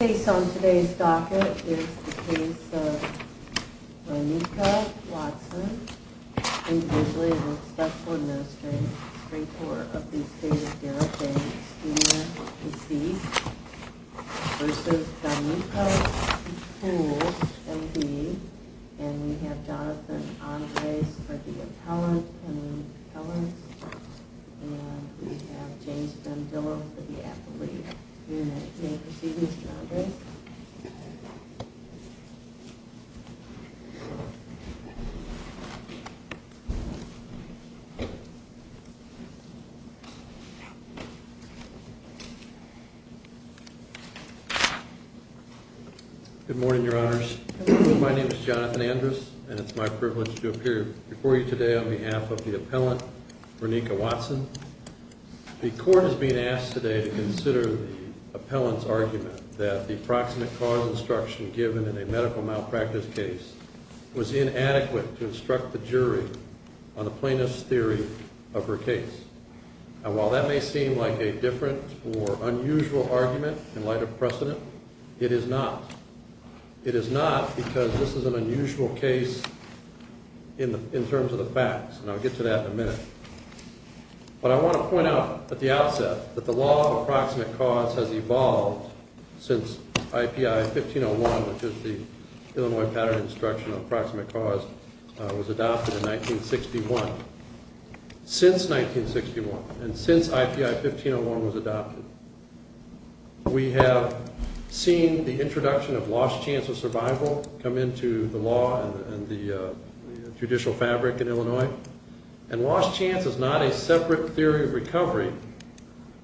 Based on today's docket, it is the case of Danica Watson, individually with Special Administrative Strength Order of the State of Darroch, and a student deceased, versus Danica Pikul, M.D. And we have Jonathan Andres for the appellant and the appellants. And we have James Van Ville for the appellate. You may proceed, Mr. Andres. Good morning, Your Honors. My name is Jonathan Andres, and it's my privilege to appear before you today on behalf of the appellant, Danica Watson. The court is being asked today to consider the appellant's argument that the proximate cause instruction given in a medical malpractice case was inadequate to instruct the jury on the plaintiff's theory of her case. And while that may seem like a different or unusual argument in light of precedent, it is not. It is not because this is an unusual case in terms of the facts, and I'll get to that in a minute. But I want to point out at the outset that the law of approximate cause has evolved since IPI 1501, which is the Illinois Pattern of Instruction on Approximate Cause, was adopted in 1961. Since 1961, and since IPI 1501 was adopted, we have seen the introduction of lost chance of survival come into the law and the judicial fabric in Illinois. And lost chance is not a separate theory of recovery,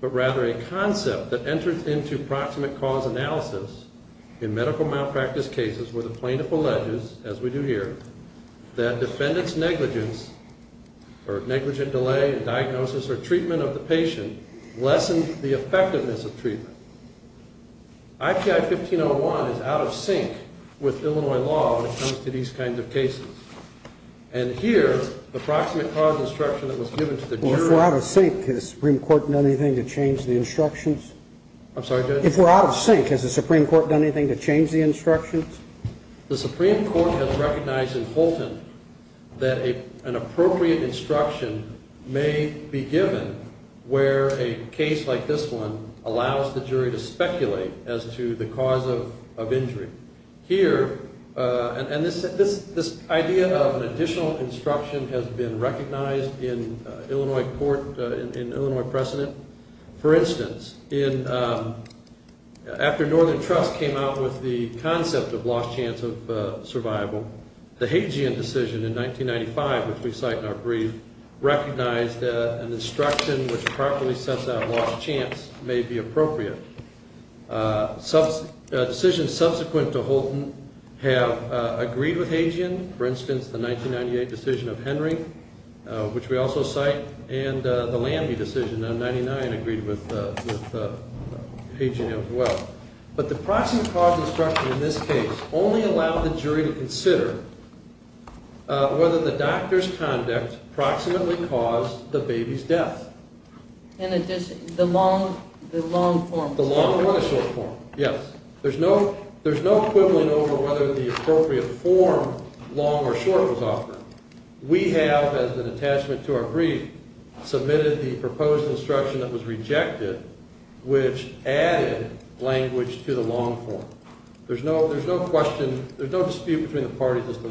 but rather a concept that enters into proximate cause analysis in medical malpractice cases where the plaintiff alleges, as we do here, that defendant's negligence or negligent delay in diagnosis or treatment of the patient lessens the effectiveness of treatment. IPI 1501 is out of sync with Illinois law when it comes to these kinds of cases. And here, the approximate cause instruction that was given to the jury... If we're out of sync, has the Supreme Court done anything to change the instructions? I'm sorry, Judge? If we're out of sync, has the Supreme Court done anything to change the instructions? The Supreme Court has recognized in Fulton that an appropriate instruction may be given where a case like this one allows the jury to speculate as to the cause of injury. Here, and this idea of an additional instruction has been recognized in Illinois court, in Illinois precedent. For instance, after Northern Trust came out with the concept of lost chance of survival, the Hagian decision in 1995, which we cite in our brief, recognized an instruction which properly sets out lost chance may be appropriate. Decisions subsequent to Fulton have agreed with Hagian. For instance, the 1998 decision of Henry, which we also cite, and the Landy decision in 1999 agreed with Hagian as well. But the approximate cause instruction in this case only allowed the jury to consider whether the doctor's conduct approximately caused the baby's death. In addition, the long form. The long or the short form, yes. There's no quibbling over whether the appropriate form, long or short, was offered. We have, as an attachment to our brief, submitted the proposed instruction that was rejected, which added language to the long form. There's no question, there's no dispute between the parties as to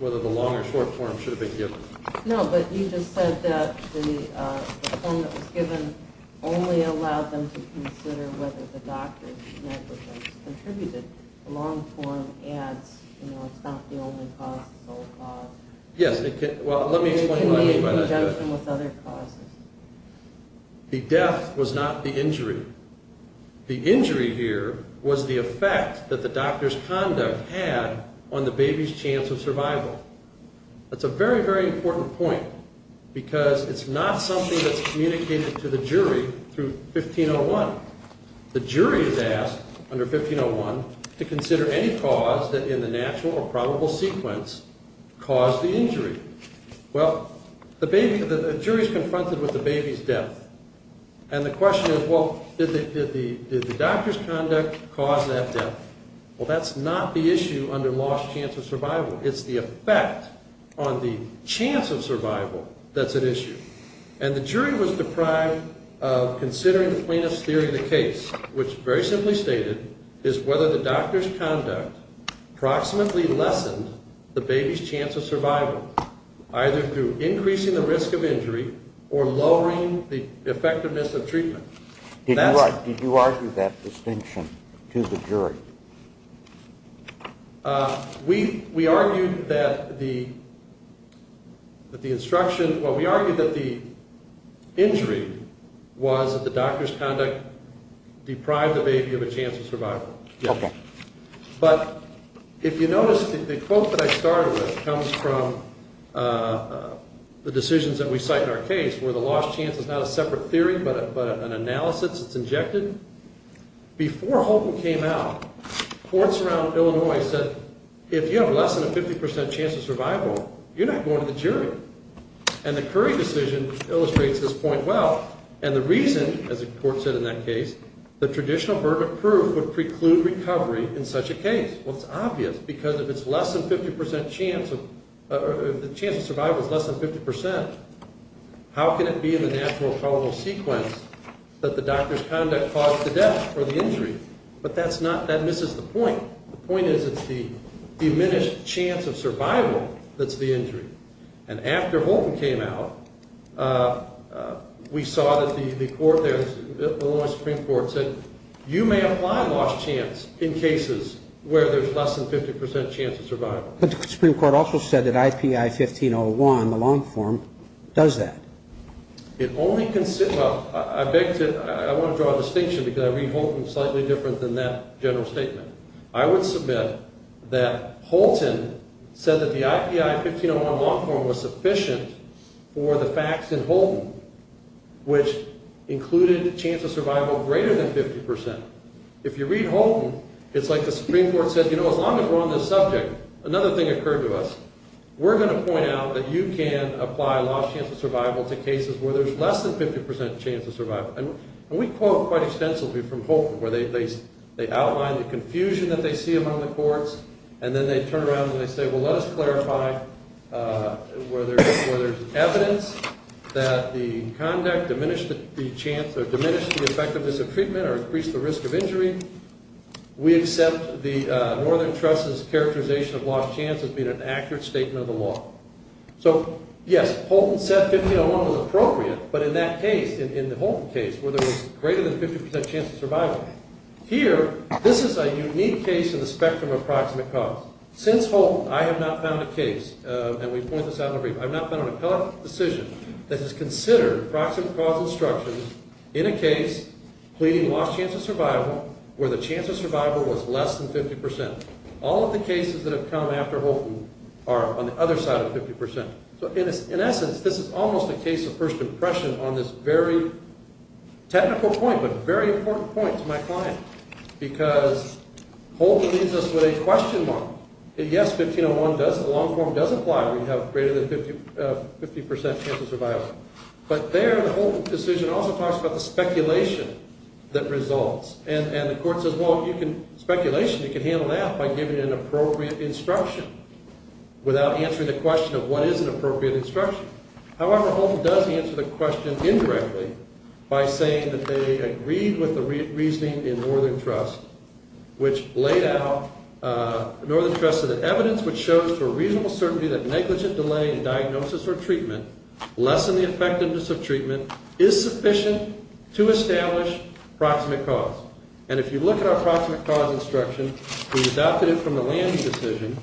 whether the long or short form should have been given. No, but you just said that the form that was given only allowed them to consider whether the doctor's negligence contributed. The long form adds, you know, it's not the only cause, it's the whole cause. Yes, well, let me explain what I mean by that. It can be in conjunction with other causes. The death was not the injury. The injury here was the effect that the doctor's conduct had on the baby's chance of survival. That's a very, very important point because it's not something that's communicated to the jury through 1501. The jury is asked under 1501 to consider any cause that in the natural or probable sequence caused the injury. Well, the jury is confronted with the baby's death, and the question is, well, did the doctor's conduct cause that death? Well, that's not the issue under lost chance of survival. It's the effect on the chance of survival that's at issue. And the jury was deprived of considering the plainness theory of the case, which very simply stated is whether the doctor's conduct approximately lessened the baby's chance of survival. Either through increasing the risk of injury or lowering the effectiveness of treatment. Did you argue that distinction to the jury? We argued that the instruction, well, we argued that the injury was that the doctor's conduct deprived the baby of a chance of survival. Okay. But if you notice, the quote that I started with comes from the decisions that we cite in our case where the lost chance is not a separate theory but an analysis that's injected. Before Holton came out, courts around Illinois said if you have less than a 50% chance of survival, you're not going to the jury. And the Curry decision illustrates this point well. And the reason, as the court said in that case, the traditional verdict proof would preclude recovery in such a case. Well, it's obvious because if the chance of survival is less than 50%, how can it be in the natural chronal sequence that the doctor's conduct caused the death or the injury? But that misses the point. The point is it's the diminished chance of survival that's the injury. And after Holton came out, we saw that the court there, the Illinois Supreme Court said, you may apply lost chance in cases where there's less than 50% chance of survival. But the Supreme Court also said that IPI 1501, the long form, does that. It only considers, well, I beg to, I want to draw a distinction because I read Holton slightly different than that general statement. I would submit that Holton said that the IPI 1501 long form was sufficient for the facts in Holton which included a chance of survival greater than 50%. If you read Holton, it's like the Supreme Court said, you know, as long as we're on this subject, another thing occurred to us. We're going to point out that you can apply lost chance of survival to cases where there's less than 50% chance of survival. And we quote quite extensively from Holton where they outline the confusion that they see among the courts and then they turn around and they say, well, let us clarify where there's evidence that the conduct diminished the chance or diminished the effectiveness of treatment or increased the risk of injury. We accept the Northern Trust's characterization of lost chance as being an accurate statement of the law. So, yes, Holton said 1501 was appropriate. But in that case, in the Holton case, where there was greater than 50% chance of survival, here, this is a unique case in the spectrum of proximate cause. Since Holton, I have not found a case, and we point this out in a brief, I have not found an appellate decision that has considered proximate cause instructions in a case pleading lost chance of survival where the chance of survival was less than 50%. All of the cases that have come after Holton are on the other side of 50%. So, in essence, this is almost a case of first impression on this very technical point but very important point to my client because Holton leaves us with a question mark. Yes, 1501 does, the long form does apply where you have greater than 50% chance of survival. But there, the Holton decision also talks about the speculation that results. And the court says, well, you can, speculation, you can handle that by giving an appropriate instruction without answering the question of what is an appropriate instruction. However, Holton does answer the question indirectly by saying that they agreed with the reasoning in Northern Trust which laid out, Northern Trust said that evidence which shows for reasonable certainty that negligent delay in diagnosis or treatment less than the effectiveness of treatment is sufficient to establish proximate cause. And if you look at our proximate cause instruction, we adopted it from the Lange decision,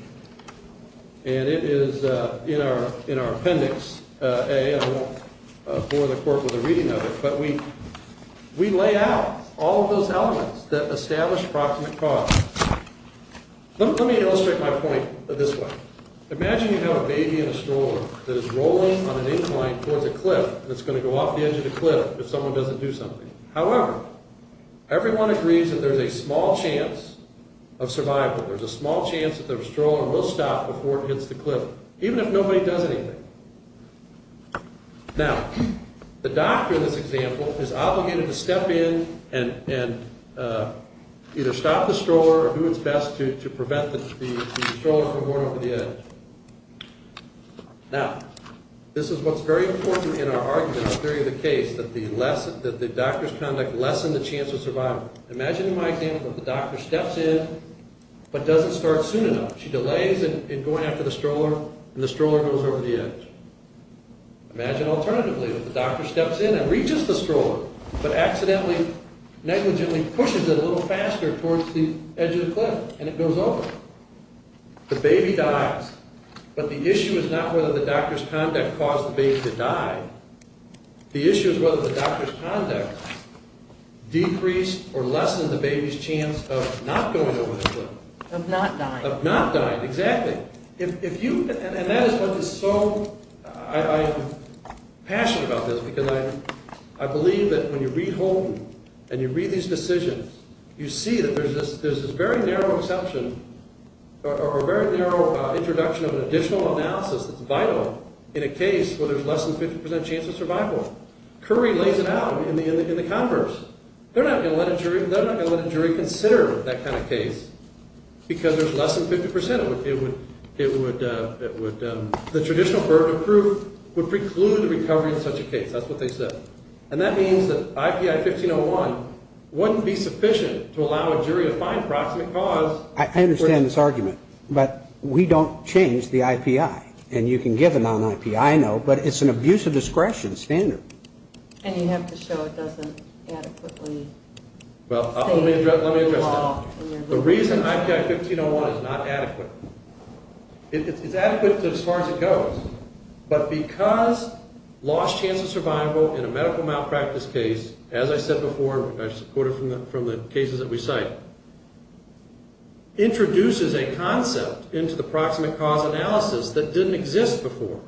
and it is in our appendix A, and I won't bore the court with a reading of it, but we lay out all of those elements that establish proximate cause. Let me illustrate my point this way. Imagine you have a baby in a stroller that is rolling on an incline towards a cliff and it's going to go off the edge of the cliff if someone doesn't do something. However, everyone agrees that there's a small chance of survival, there's a small chance that the stroller will stop before it hits the cliff, even if nobody does anything. Now, the doctor in this example is obligated to step in and either stop the stroller or do what's best to prevent the stroller from rolling over the edge. Now, this is what's very important in our argument in the theory of the case, that the doctor's conduct lessened the chance of survival. Imagine in my example, the doctor steps in but doesn't start soon enough. She delays in going after the stroller and the stroller goes over the edge. Imagine alternatively that the doctor steps in and reaches the stroller but accidentally, negligently pushes it a little faster towards the edge of the cliff and it goes over. The baby dies, but the issue is not whether the doctor's conduct caused the baby to die. The issue is whether the doctor's conduct decreased of not dying. Of not dying, exactly. And that is what is so, I am passionate about this because I believe that when you read Holden and you read these decisions, you see that there's this very narrow exception or very narrow introduction of an additional analysis that's vital in a case where there's less than 50% chance of survival. Curry lays it out in the converse. They're not going to let a jury consider that kind of case because there's less than 50%. The traditional burden of proof would preclude recovery in such a case. That's what they said. And that means that IPI 1501 wouldn't be sufficient to allow a jury to find a proximate cause. I understand this argument, but we don't change the IPI. And you can give a non-IPI note, but it's an abuse of discretion standard. And you have to show it doesn't adequately... Well, let me address that. The reason IPI 1501 is not adequate, it's adequate as far as it goes, but because lost chance of survival in a medical malpractice case, as I said before, I just quoted from the cases that we cite, introduces a concept into the proximate cause analysis that didn't exist before.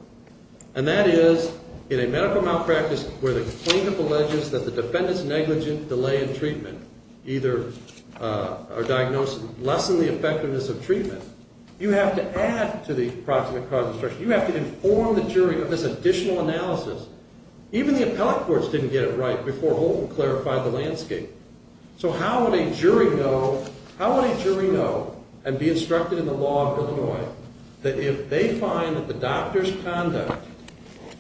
And that is, in a medical malpractice where the plaintiff alleges that the defendant's negligent delay in treatment either or diagnosis lessened the effectiveness of treatment, you have to add to the proximate cause instruction. You have to inform the jury of this additional analysis. Even the appellate courts didn't get it right before Holton clarified the landscape. So how would a jury know and be instructed in the law of Illinois that if they find that the doctor's conduct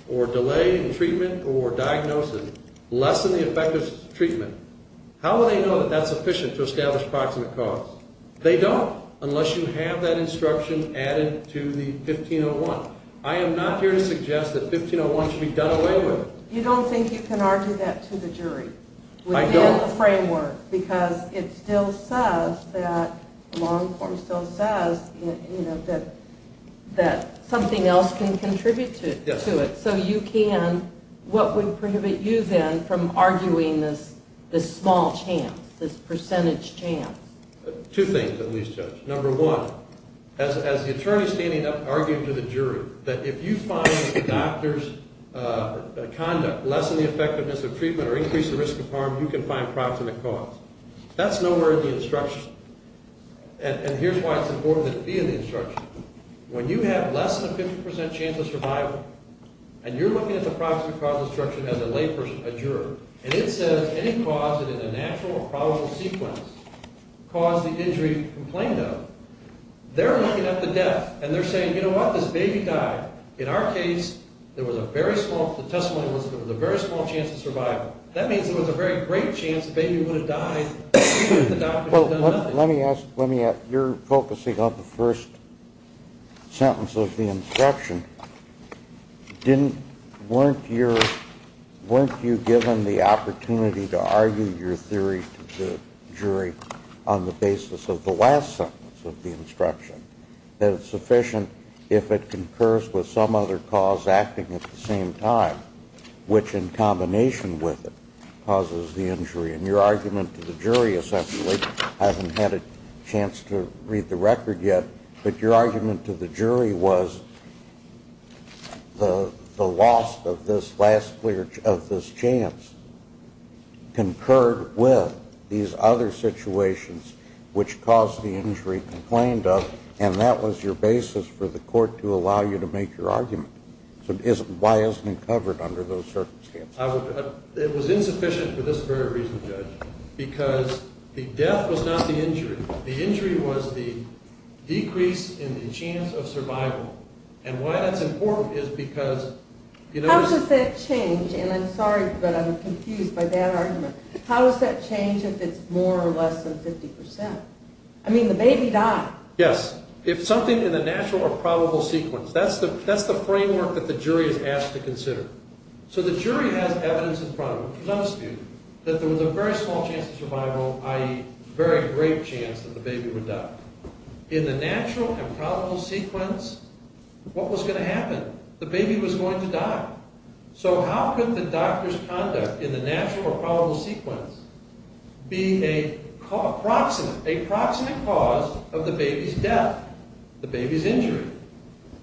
or delay in treatment or diagnosis lessened the effectiveness of treatment, how would they know that that's efficient to establish proximate cause? They don't, unless you have that instruction added to the 1501. I am not here to suggest that 1501 should be done away with. You don't think you can argue that to the jury? I don't. Because it still says that something else can contribute to it. So you can. What would prohibit you then from arguing this small chance, this percentage chance? Two things, at least, Judge. Number one, as the attorney standing up arguing to the jury, that if you find that the doctor's conduct lessened the effectiveness of That's nowhere in the instruction. And here's why it's important that it be in the instruction. When you have less than a 50% chance of survival and you're looking at the proximate cause instruction as a lay person, a juror, and it says any cause that is a natural or probable sequence caused the injury complained of, they're looking at the death. And they're saying, you know what, this baby died. In our case, there was a very small, the testimony was, there was a very small chance of survival. That means there was a very great chance the baby would have died if the doctor had done nothing. Let me ask, you're focusing on the first sentence of the instruction. Weren't you given the opportunity to argue your theory to the jury on the basis of the last sentence of the instruction, that it's sufficient if it concurs with some other cause acting at the same time, which in combination with it causes the injury? And your argument to the jury essentially, I haven't had a chance to read the record yet, but your argument to the jury was the loss of this chance concurred with these other situations which caused the injury complained of, and that was your basis for the court to allow you to make your argument. So why isn't it covered under those circumstances? It was insufficient for this very reason, Judge, because the death was not the injury. The injury was the decrease in the chance of survival. And why that's important is because, you know, How does that change, and I'm sorry, but I'm confused by that argument. How does that change if it's more or less than 50 percent? I mean, the baby died. Yes, if something in the natural or probable sequence. That's the framework that the jury is asked to consider. So the jury has evidence in front of them, which presumes to you that there was a very small chance of survival, i.e., very great chance that the baby would die. In the natural and probable sequence, what was going to happen? The baby was going to die. So how could the doctor's conduct in the natural or probable sequence be a proximate cause of the baby's death, the baby's injury?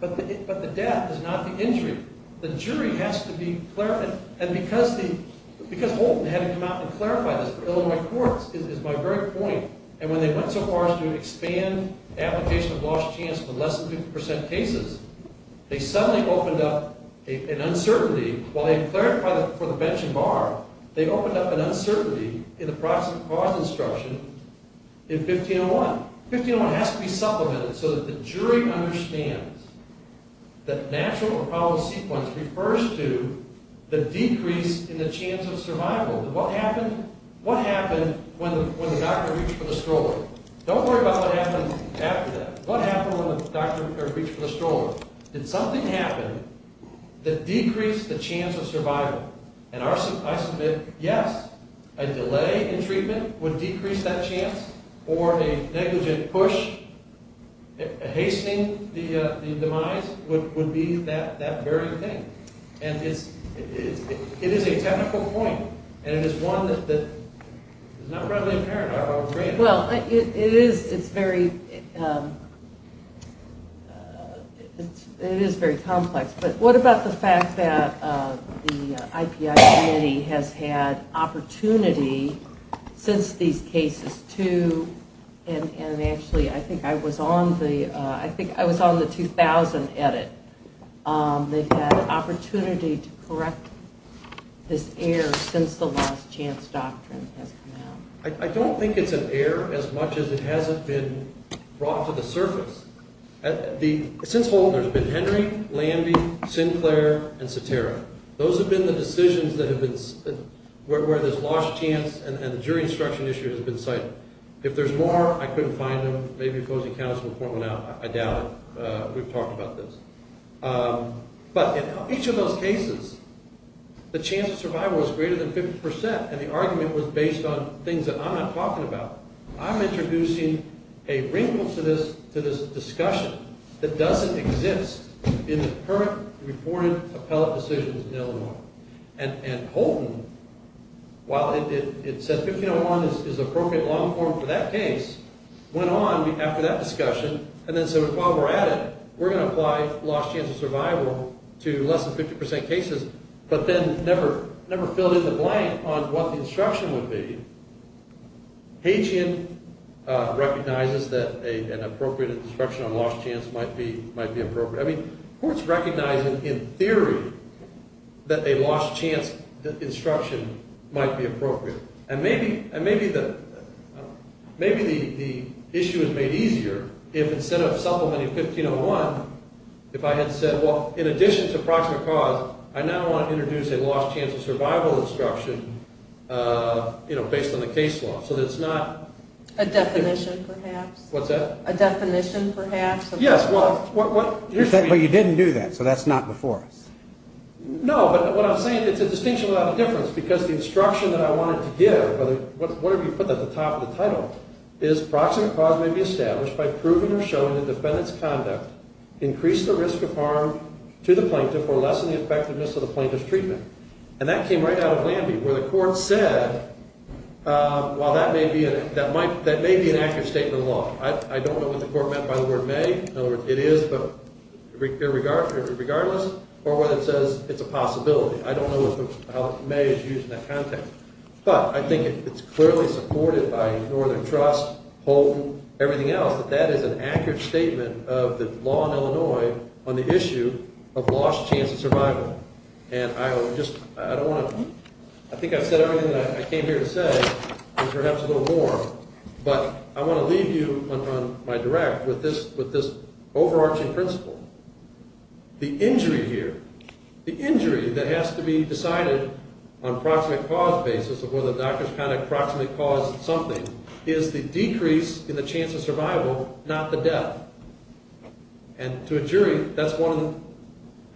But the death is not the injury. The jury has to be clarifying. And because Holton had to come out and clarify this for Illinois courts, is my very point, and when they went so far as to expand application of lost chance for less than 50 percent cases, they suddenly opened up an uncertainty. While they clarified it for the bench and bar, they opened up an uncertainty in the proximate cause instruction in 1501. 1501 has to be supplemented so that the jury understands that natural or probable sequence refers to the decrease in the chance of survival. What happened when the doctor reached for the stroller? Don't worry about what happened after that. What happened when the doctor reached for the stroller? Did something happen that decreased the chance of survival? And I submit, yes, a delay in treatment would decrease that chance or a negligent push hastening the demise would be that very thing. And it is a technical point, and it is one that is not readily apparent. Well, it is very complex. But what about the fact that the IPI committee has had opportunity since these cases to, and actually I think I was on the 2000 edit, they've had an opportunity to correct this error since the lost chance doctrine has come out. I don't think it's an error as much as it hasn't been brought to the surface. Since Holton, there's been Henry, Landy, Sinclair, and Cetera. Those have been the decisions where this lost chance and the jury instruction issue has been cited. If there's more, I couldn't find them. Maybe opposing counsel will point them out. I doubt it. We've talked about this. But in each of those cases, the chance of survival is greater than 50%, and the argument was based on things that I'm not talking about. I'm introducing a wrinkle to this discussion that doesn't exist in the current reported appellate decisions in Illinois. And Holton, while it said 1501 is the appropriate long form for that case, went on after that discussion and then said, while we're at it, we're going to apply lost chance of survival to less than 50% cases, but then never filled in the blank on what the instruction would be. Haitian recognizes that an appropriate instruction on lost chance might be appropriate. I mean, courts recognize in theory that a lost chance instruction might be appropriate. And maybe the issue is made easier if instead of supplementing 1501, if I had said, well, in addition to proximate cause, I now want to introduce a lost chance of survival instruction, you know, based on the case law. So that it's not- A definition, perhaps. What's that? A definition, perhaps. Yes, well- But you didn't do that, so that's not before us. No, but what I'm saying, it's a distinction without a difference, because the instruction that I wanted to give, whatever you put at the top of the title, is proximate cause may be established by proving or showing that defendant's conduct increased the risk of harm to the plaintiff or lessened the effectiveness of the plaintiff's treatment. And that came right out of Lambie, where the court said, well, that may be an accurate statement of the law. I don't know what the court meant by the word may. In other words, it is, but regardless, or whether it says it's a possibility. I don't know how may is used in that context. But I think it's clearly supported by Northern Trust, Houghton, everything else, that that is an accurate statement of the law in Illinois on the issue of lost chance of survival. And I think I said everything that I came here to say, and perhaps a little more, but I want to leave you on my direct with this overarching principle. The injury here, the injury that has to be decided on proximate cause basis, or whether the doctor's kind of proximate cause something, is the decrease in the chance of survival, not the death. And to a jury, that's one of them.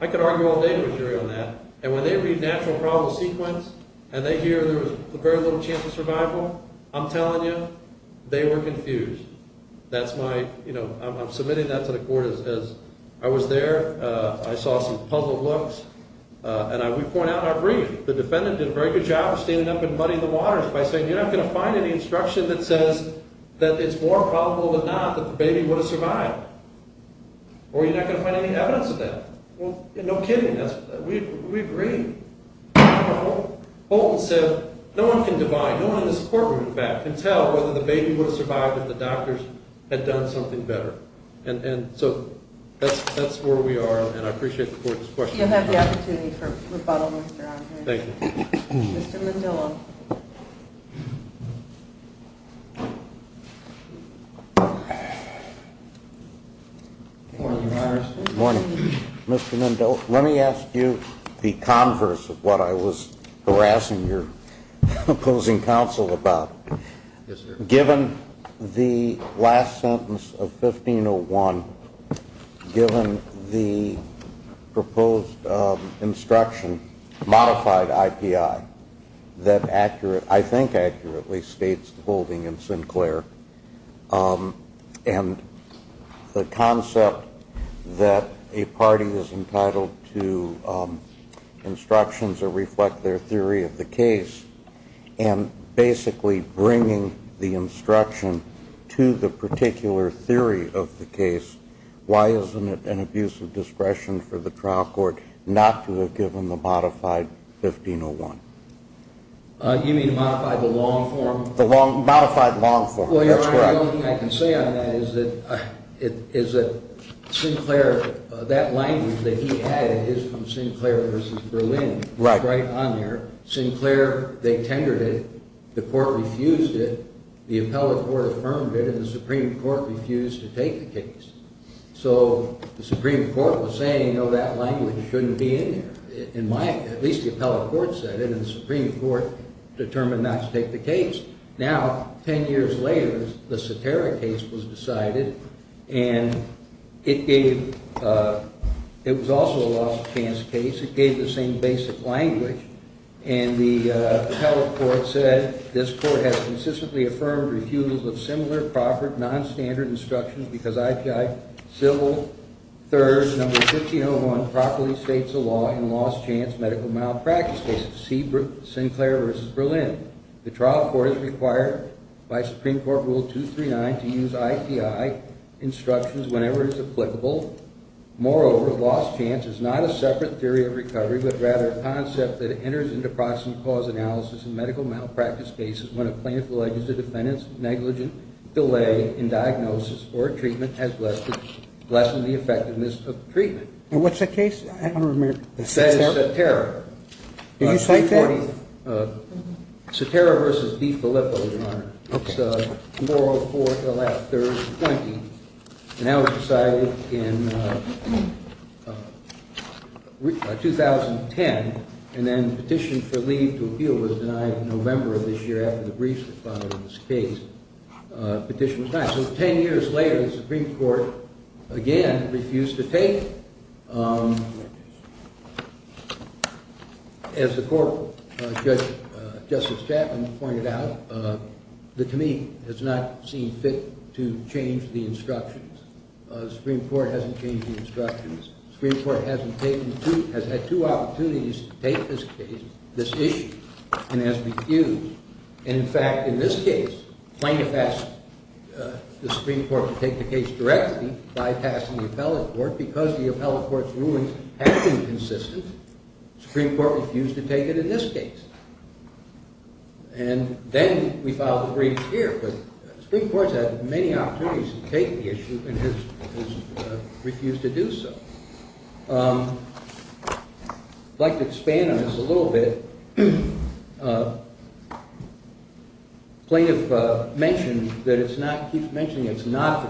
I could argue all day with a jury on that. And when they read natural problem sequence and they hear there was very little chance of survival, I'm telling you, they were confused. That's my, you know, I'm submitting that to the court as I was there. I saw some puzzled looks. And we point out our brief. The defendant did a very good job of standing up and muddying the waters by saying, you're not going to find any instruction that says that it's more probable than not that the baby would have survived. Or you're not going to find any evidence of that. No kidding. We agree. Houghton said no one can divide, no one in this courtroom, in fact, can tell whether the baby would have survived if the doctors had done something better. And so that's where we are, and I appreciate the court's question. You'll have the opportunity for rebuttal, Mr. Houghton. Thank you. Mr. Mendillo. Good morning, Your Honor. Good morning. Mr. Mendillo, let me ask you the converse of what I was harassing your opposing counsel about. Yes, sir. Given the last sentence of 1501, given the proposed instruction, modified IPI, that I think accurately states the holding in Sinclair, and the concept that a party is entitled to instructions that reflect their theory of the case, and basically bringing the instruction to the particular theory of the case, why isn't it an abuse of discretion for the trial court not to have given the modified 1501? You mean modified the long form? Modified long form, that's correct. Well, Your Honor, the only thing I can say on that is that Sinclair, that language that he added is from Sinclair v. Berlin. Right. It's right on there. Sinclair, they tendered it. The court refused it. The appellate court affirmed it, and the Supreme Court refused to take the case. So the Supreme Court was saying, you know, that language shouldn't be in there. At least the appellate court said it, and the Supreme Court determined not to take the case. Now, 10 years later, the Satara case was decided, and it was also a lost chance case. It gave the same basic language, and the appellate court said, this court has consistently affirmed refusals of similar, proper, nonstandard instructions because IPI civil third, number 1501, properly states the law in lost chance medical malpractice cases, Sinclair v. Berlin. The trial court is required by Supreme Court Rule 239 to use IPI instructions whenever it's applicable. Moreover, lost chance is not a separate theory of recovery, but rather a concept that enters into proximate cause analysis in medical malpractice cases when a plaintiff alleges the defendant's negligent delay in diagnosis or treatment has lessened the effectiveness of treatment. And what's that case? I don't remember. That is Satara. Did you cite that? Satara v. DeFilippo, Your Honor. Okay. It was tomorrow, 4th, 11th, 3rd, 20th, and that was decided in 2010, and then the petition for leave to appeal was denied in November of this year after the briefs were filed in this case. Petition was denied. So 10 years later, the Supreme Court, again, refused to take. As the court, Justice Chapman, pointed out, the committee has not seen fit to change the instructions. The Supreme Court hasn't changed the instructions. The Supreme Court has had two opportunities to take this case, this issue, and has refused. In fact, in this case, the plaintiff asked the Supreme Court to take the case directly by passing the appellate court because the appellate court's rulings have been consistent. The Supreme Court refused to take it in this case. And then we filed the briefs here, but the Supreme Court has had many opportunities to take the issue and has refused to do so. I'd like to expand on this a little bit. The plaintiff mentioned that it's not the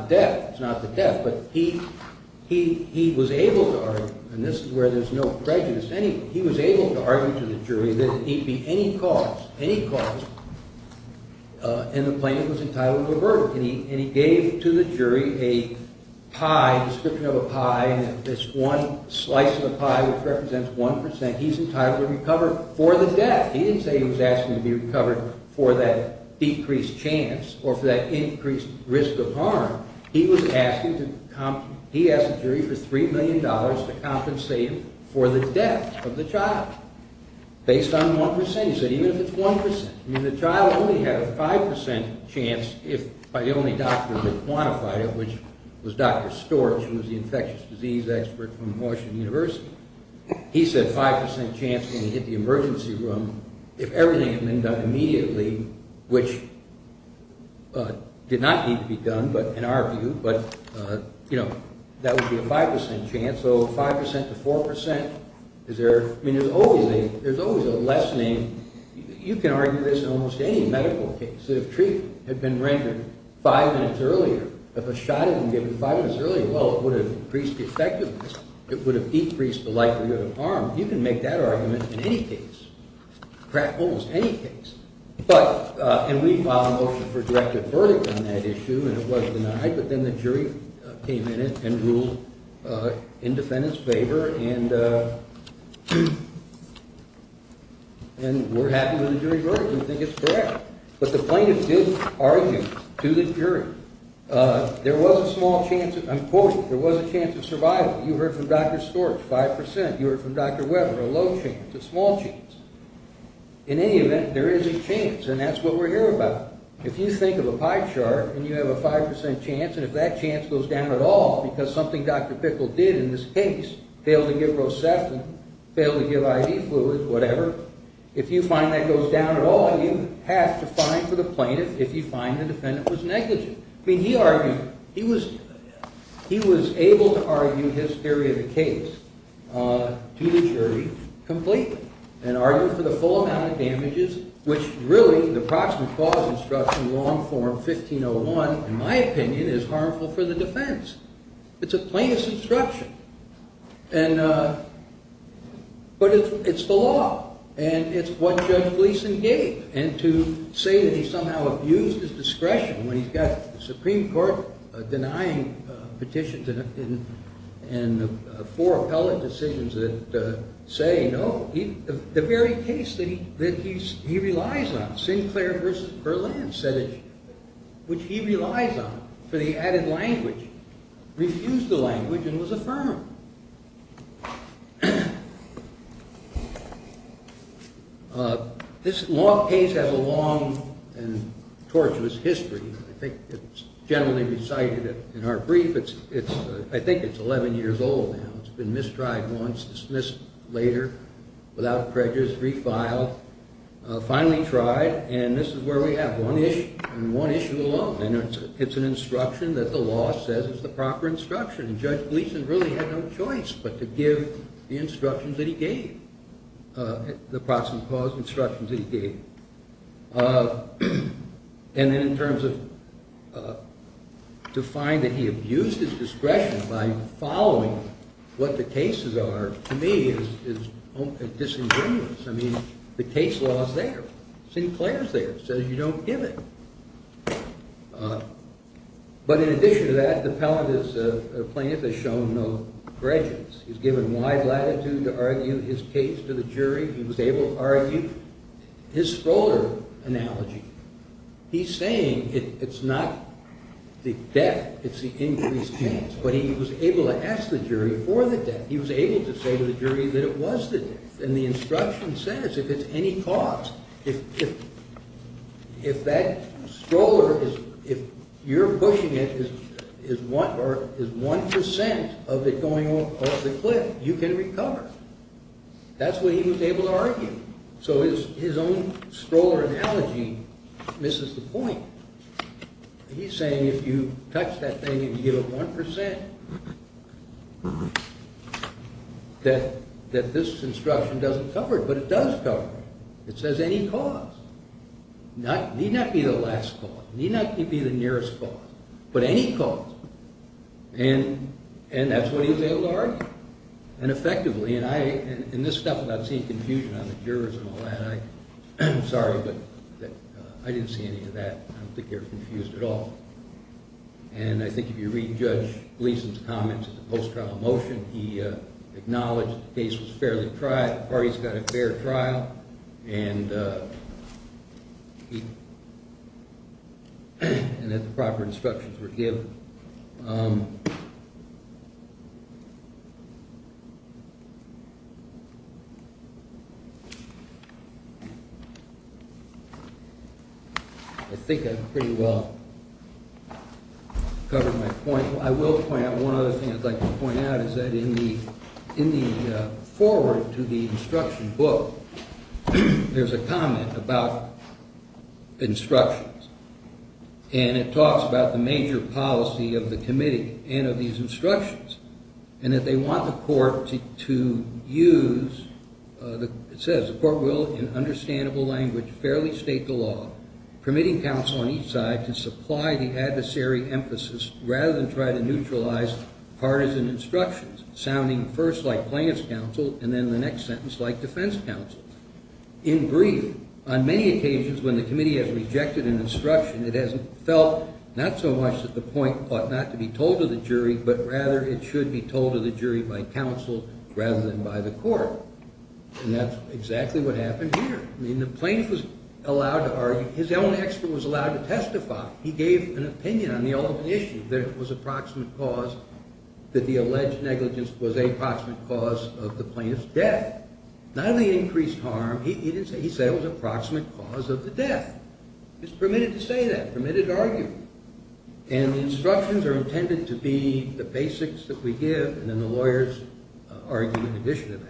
death, but he was able to argue, and this is where there's no prejudice, he was able to argue to the jury that it need be any cause, any cause, and the plaintiff was entitled to a verdict. And he gave to the jury a pie, a description of a pie, this one slice of a pie which represents 1%. And he's entitled to recover for the death. He didn't say he was asking to be recovered for that decreased chance or for that increased risk of harm. He was asking to – he asked the jury for $3 million to compensate him for the death of the child based on 1%. He said even if it's 1%, I mean, the child only had a 5% chance if by the only doctor who quantified it, which was Dr. Storch, who was the infectious disease expert from Washington University. He said 5% chance when he hit the emergency room if everything had been done immediately, which did not need to be done in our view, but, you know, that would be a 5% chance. So 5% to 4%, is there – I mean, there's always a lessening. You can argue this in almost any medical case. If treatment had been rendered five minutes earlier, if a shot had been given five minutes earlier, well, it would have increased the effectiveness. It would have decreased the likelihood of harm. You can make that argument in any case, almost any case. But – and we filed a motion for directive verdict on that issue, and it was denied. But then the jury came in and ruled in defendant's favor, and we're happy with the jury verdict. We think it's correct. But the plaintiff did argue to the jury. There was a small chance of – I'm quoting – there was a chance of survival. You heard from Dr. Storch, 5%. You heard from Dr. Weber, a low chance, a small chance. In any event, there is a chance, and that's what we're here about. If you think of a pie chart and you have a 5% chance, and if that chance goes down at all because something Dr. Bickel did in this case, failed to give rosepin, failed to give IV fluids, whatever, if you find that goes down at all, you have to fine for the plaintiff if you find the defendant was negligent. I mean, he argued – he was able to argue his theory of the case to the jury completely and argued for the full amount of damages, which really, the proximate clause instruction, long form, 1501, in my opinion, is harmful for the defense. It's a plaintiff's instruction. But it's the law, and it's what Judge Gleeson gave. And to say that he somehow abused his discretion when he's got the Supreme Court denying petitions and four appellate decisions that say no, the very case that he relies on, Sinclair v. Berlin, which he relies on for the added language, refused the language and was affirmed. This law case has a long and tortuous history. I think it's generally recited in our brief. I think it's 11 years old now. It's been mistried once, dismissed later, without prejudice, refiled, finally tried, and this is where we have one issue and one issue alone. And it's an instruction that the law says is the proper instruction. And Judge Gleeson really had no choice but to give the instructions that he gave, the proximate clause instructions that he gave. And then in terms of to find that he abused his discretion by following what the cases are, to me is disingenuous. I mean, the case law is there. Sinclair is there. It says you don't give it. But in addition to that, the plaintiff has shown no prejudice. He's given wide latitude to argue his case to the jury. He was able to argue his Schroeder analogy. He's saying it's not the death, it's the increased chance. But he was able to ask the jury for the death. He was able to say to the jury that it was the death. And the instruction says if it's any cause, if that stroller, if you're pushing it, is 1% of it going off the cliff, you can recover. That's what he was able to argue. So his own Schroeder analogy misses the point. He's saying if you touch that thing and you give it 1%, that this instruction doesn't cover it. But it does cover it. It says any cause. It need not be the last cause. It need not be the nearest cause. But any cause. And that's what he was able to argue. And effectively, and this stuff without seeing confusion on the jurors and all that, I'm sorry, but I didn't see any of that. I don't think they were confused at all. And I think if you read Judge Gleason's comments at the post-trial motion, he acknowledged the case was fairly tried, the parties got a fair trial, and that the proper instructions were given. I think I've pretty well covered my point. I will point out one other thing I'd like to point out, is that in the foreword to the instruction book, there's a comment about instructions. And it talks about the major policy of the committee and of these instructions, and that they want the court to use, it says, the court will, in understandable language, fairly state the law, permitting counsel on each side to supply the adversary emphasis rather than try to neutralize partisan instructions, sounding first like plaintiff's counsel, and then the next sentence like defense counsel. In brief, on many occasions when the committee has rejected an instruction, it has felt not so much that the point ought not to be told to the jury, but rather it should be told to the jury by counsel rather than by the court. And that's exactly what happened here. His own expert was allowed to testify. He gave an opinion on the ultimate issue, that it was approximate cause, that the alleged negligence was approximate cause of the plaintiff's death. Not only increased harm, he said it was approximate cause of the death. He was permitted to say that, permitted to argue. And the instructions are intended to be the basics that we give, and then the lawyer's argument in addition to that.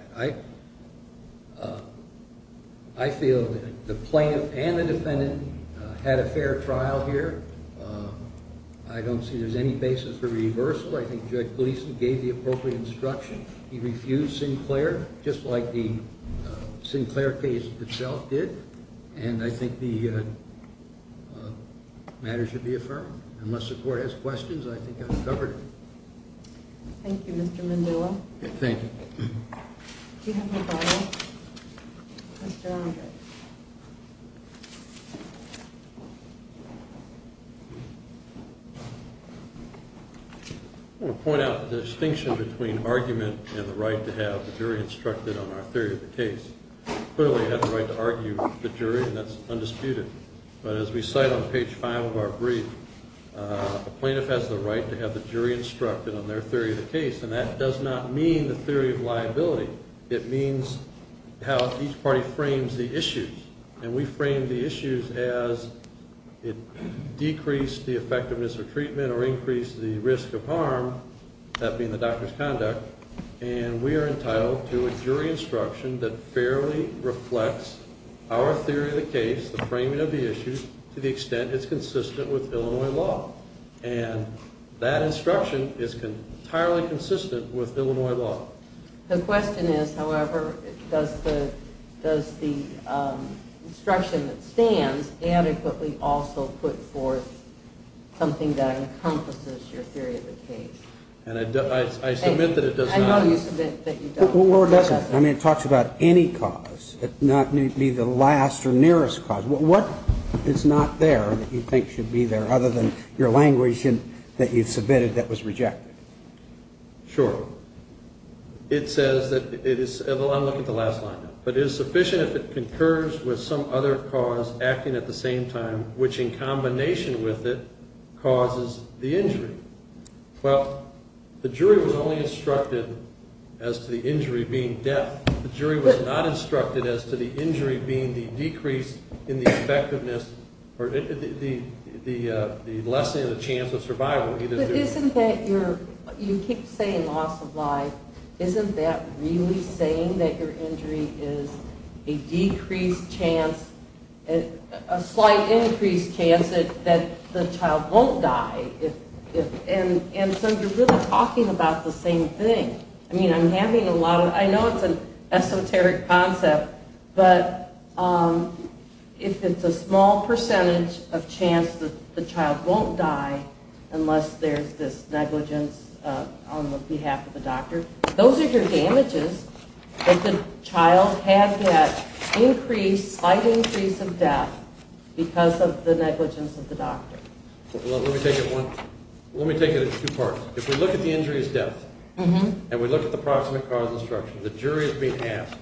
I feel that the plaintiff and the defendant had a fair trial here. I don't see there's any basis for reversal. I think Judge Gleeson gave the appropriate instruction. He refused Sinclair just like the Sinclair case itself did, and I think the matter should be affirmed. Unless the court has questions, I think I've covered it. Thank you, Mr. Mandula. Thank you. I want to point out the distinction between argument and the right to have the jury instructed on our theory of the case. Clearly, you have the right to argue with the jury, and that's undisputed. But as we cite on page 5 of our brief, a plaintiff has the right to have the jury instructed on their theory of the case, and that does not mean the theory of liability. It means how each party frames the issues, and we frame the issues as it decreased the effectiveness of treatment or increased the risk of harm, that being the doctor's conduct, and we are entitled to a jury instruction that fairly reflects our theory of the case, the framing of the issues, to the extent it's consistent with Illinois law. And that instruction is entirely consistent with Illinois law. The question is, however, does the instruction that stands adequately also put forth something that encompasses your theory of the case? And I submit that it does not. I know you submit that you don't. Well, it doesn't. I mean, it talks about any cause. It may not be the last or nearest cause. What is not there that you think should be there, other than your language that you've submitted that was rejected? Sure. It says that it is sufficient if it concurs with some other cause acting at the same time, which in combination with it causes the injury. Well, the jury was only instructed as to the injury being death. The jury was not instructed as to the injury being the decrease in the effectiveness or the lessening of the chance of survival. But isn't that your ñ you keep saying loss of life. Isn't that really saying that your injury is a decreased chance, a slight increased chance that the child won't die? And so you're really talking about the same thing. I mean, I'm having a lot of ñ I know it's an esoteric concept, but if it's a small percentage of chance that the child won't die unless there's this negligence on the behalf of the doctor, those are your damages that the child had that increased slight increase of death because of the negligence of the doctor. Let me take it in two parts. If we look at the injury as death, and we look at the proximate cause instruction, the jury is being asked,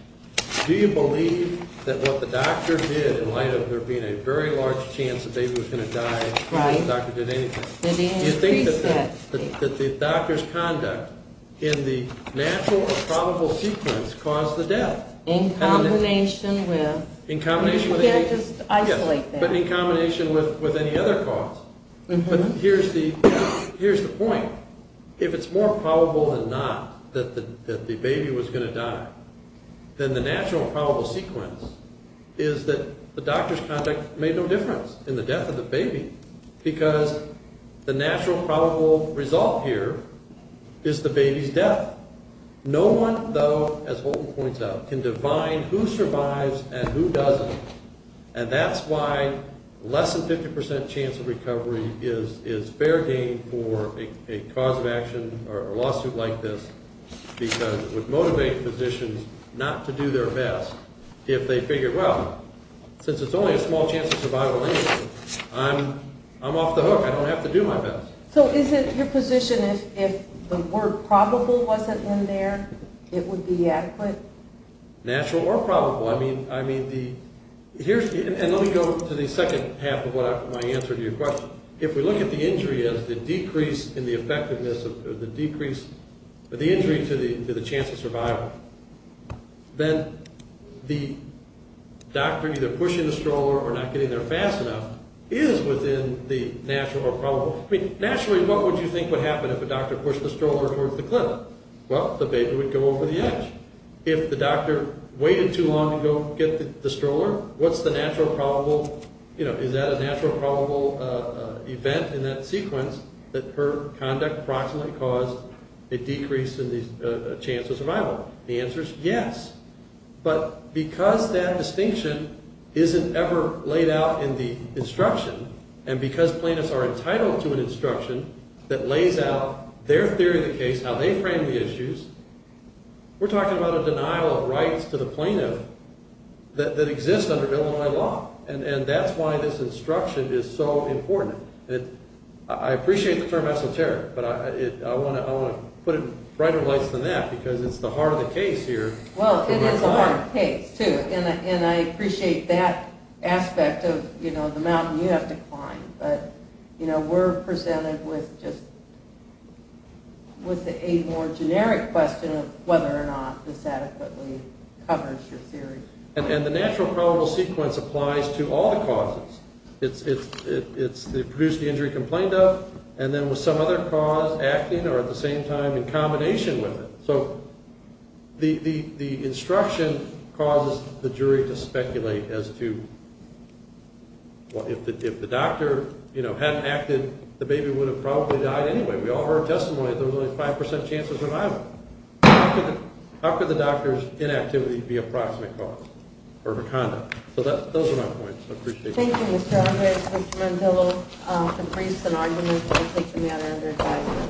do you believe that what the doctor did in light of there being a very large chance the baby was going to die before the doctor did anything, do you think that the doctor's conduct in the natural or probable sequence caused the death? In combination with ñ you can't just isolate that. But in combination with any other cause. Here's the point. If it's more probable than not that the baby was going to die, then the natural or probable sequence is that the doctor's conduct made no difference in the death of the baby because the natural probable result here is the baby's death. No one, though, as Holton points out, can define who survives and who doesn't, and that's why less than 50% chance of recovery is fair game for a cause of action or lawsuit like this because it would motivate physicians not to do their best if they figured, well, since it's only a small chance of survival anyway, I'm off the hook. I don't have to do my best. So is it your position if the word probable wasn't in there, it would be adequate? Natural or probable. I mean the ñ and let me go to the second half of my answer to your question. If we look at the injury as the decrease in the effectiveness of the decrease ñ the injury to the chance of survival, then the doctor either pushing the stroller or not getting there fast enough is within the natural or probable ñ I mean, naturally, what would you think would happen if a doctor pushed the stroller towards the clinic? Well, the baby would go over the edge. If the doctor waited too long to go get the stroller, what's the natural probable ñ you know, is that a natural probable event in that sequence that her conduct approximately caused a decrease in the chance of survival? The answer is yes. But because that distinction isn't ever laid out in the instruction, and because plaintiffs are entitled to an instruction that lays out their theory of the case, how they frame the issues, we're talking about a denial of rights to the plaintiff that exists under Illinois law, and that's why this instruction is so important. I appreciate the term esoteric, but I want to put it brighter lights than that because it's the heart of the case here. Well, it is the heart of the case, too, and I appreciate that aspect of, you know, the mountain you have to climb, but, you know, we're presented with just ñ with a more generic question of whether or not this adequately covers your theory. And the natural probable sequence applies to all the causes. It's the induced injury complained of, and then with some other cause acting or at the same time in combination with it. So the instruction causes the jury to speculate as to ñ well, if the doctor, you know, hadn't acted, the baby would have probably died anyway. We all heard testimony that there was only a 5% chance of survival. How could the doctor's inactivity be a proximate cause for her conduct? So those are my points. I appreciate it. Thank you, Mr. Alvarez. Mr. Mandello, Caprice, and Argument, we'll take the matter under a tie.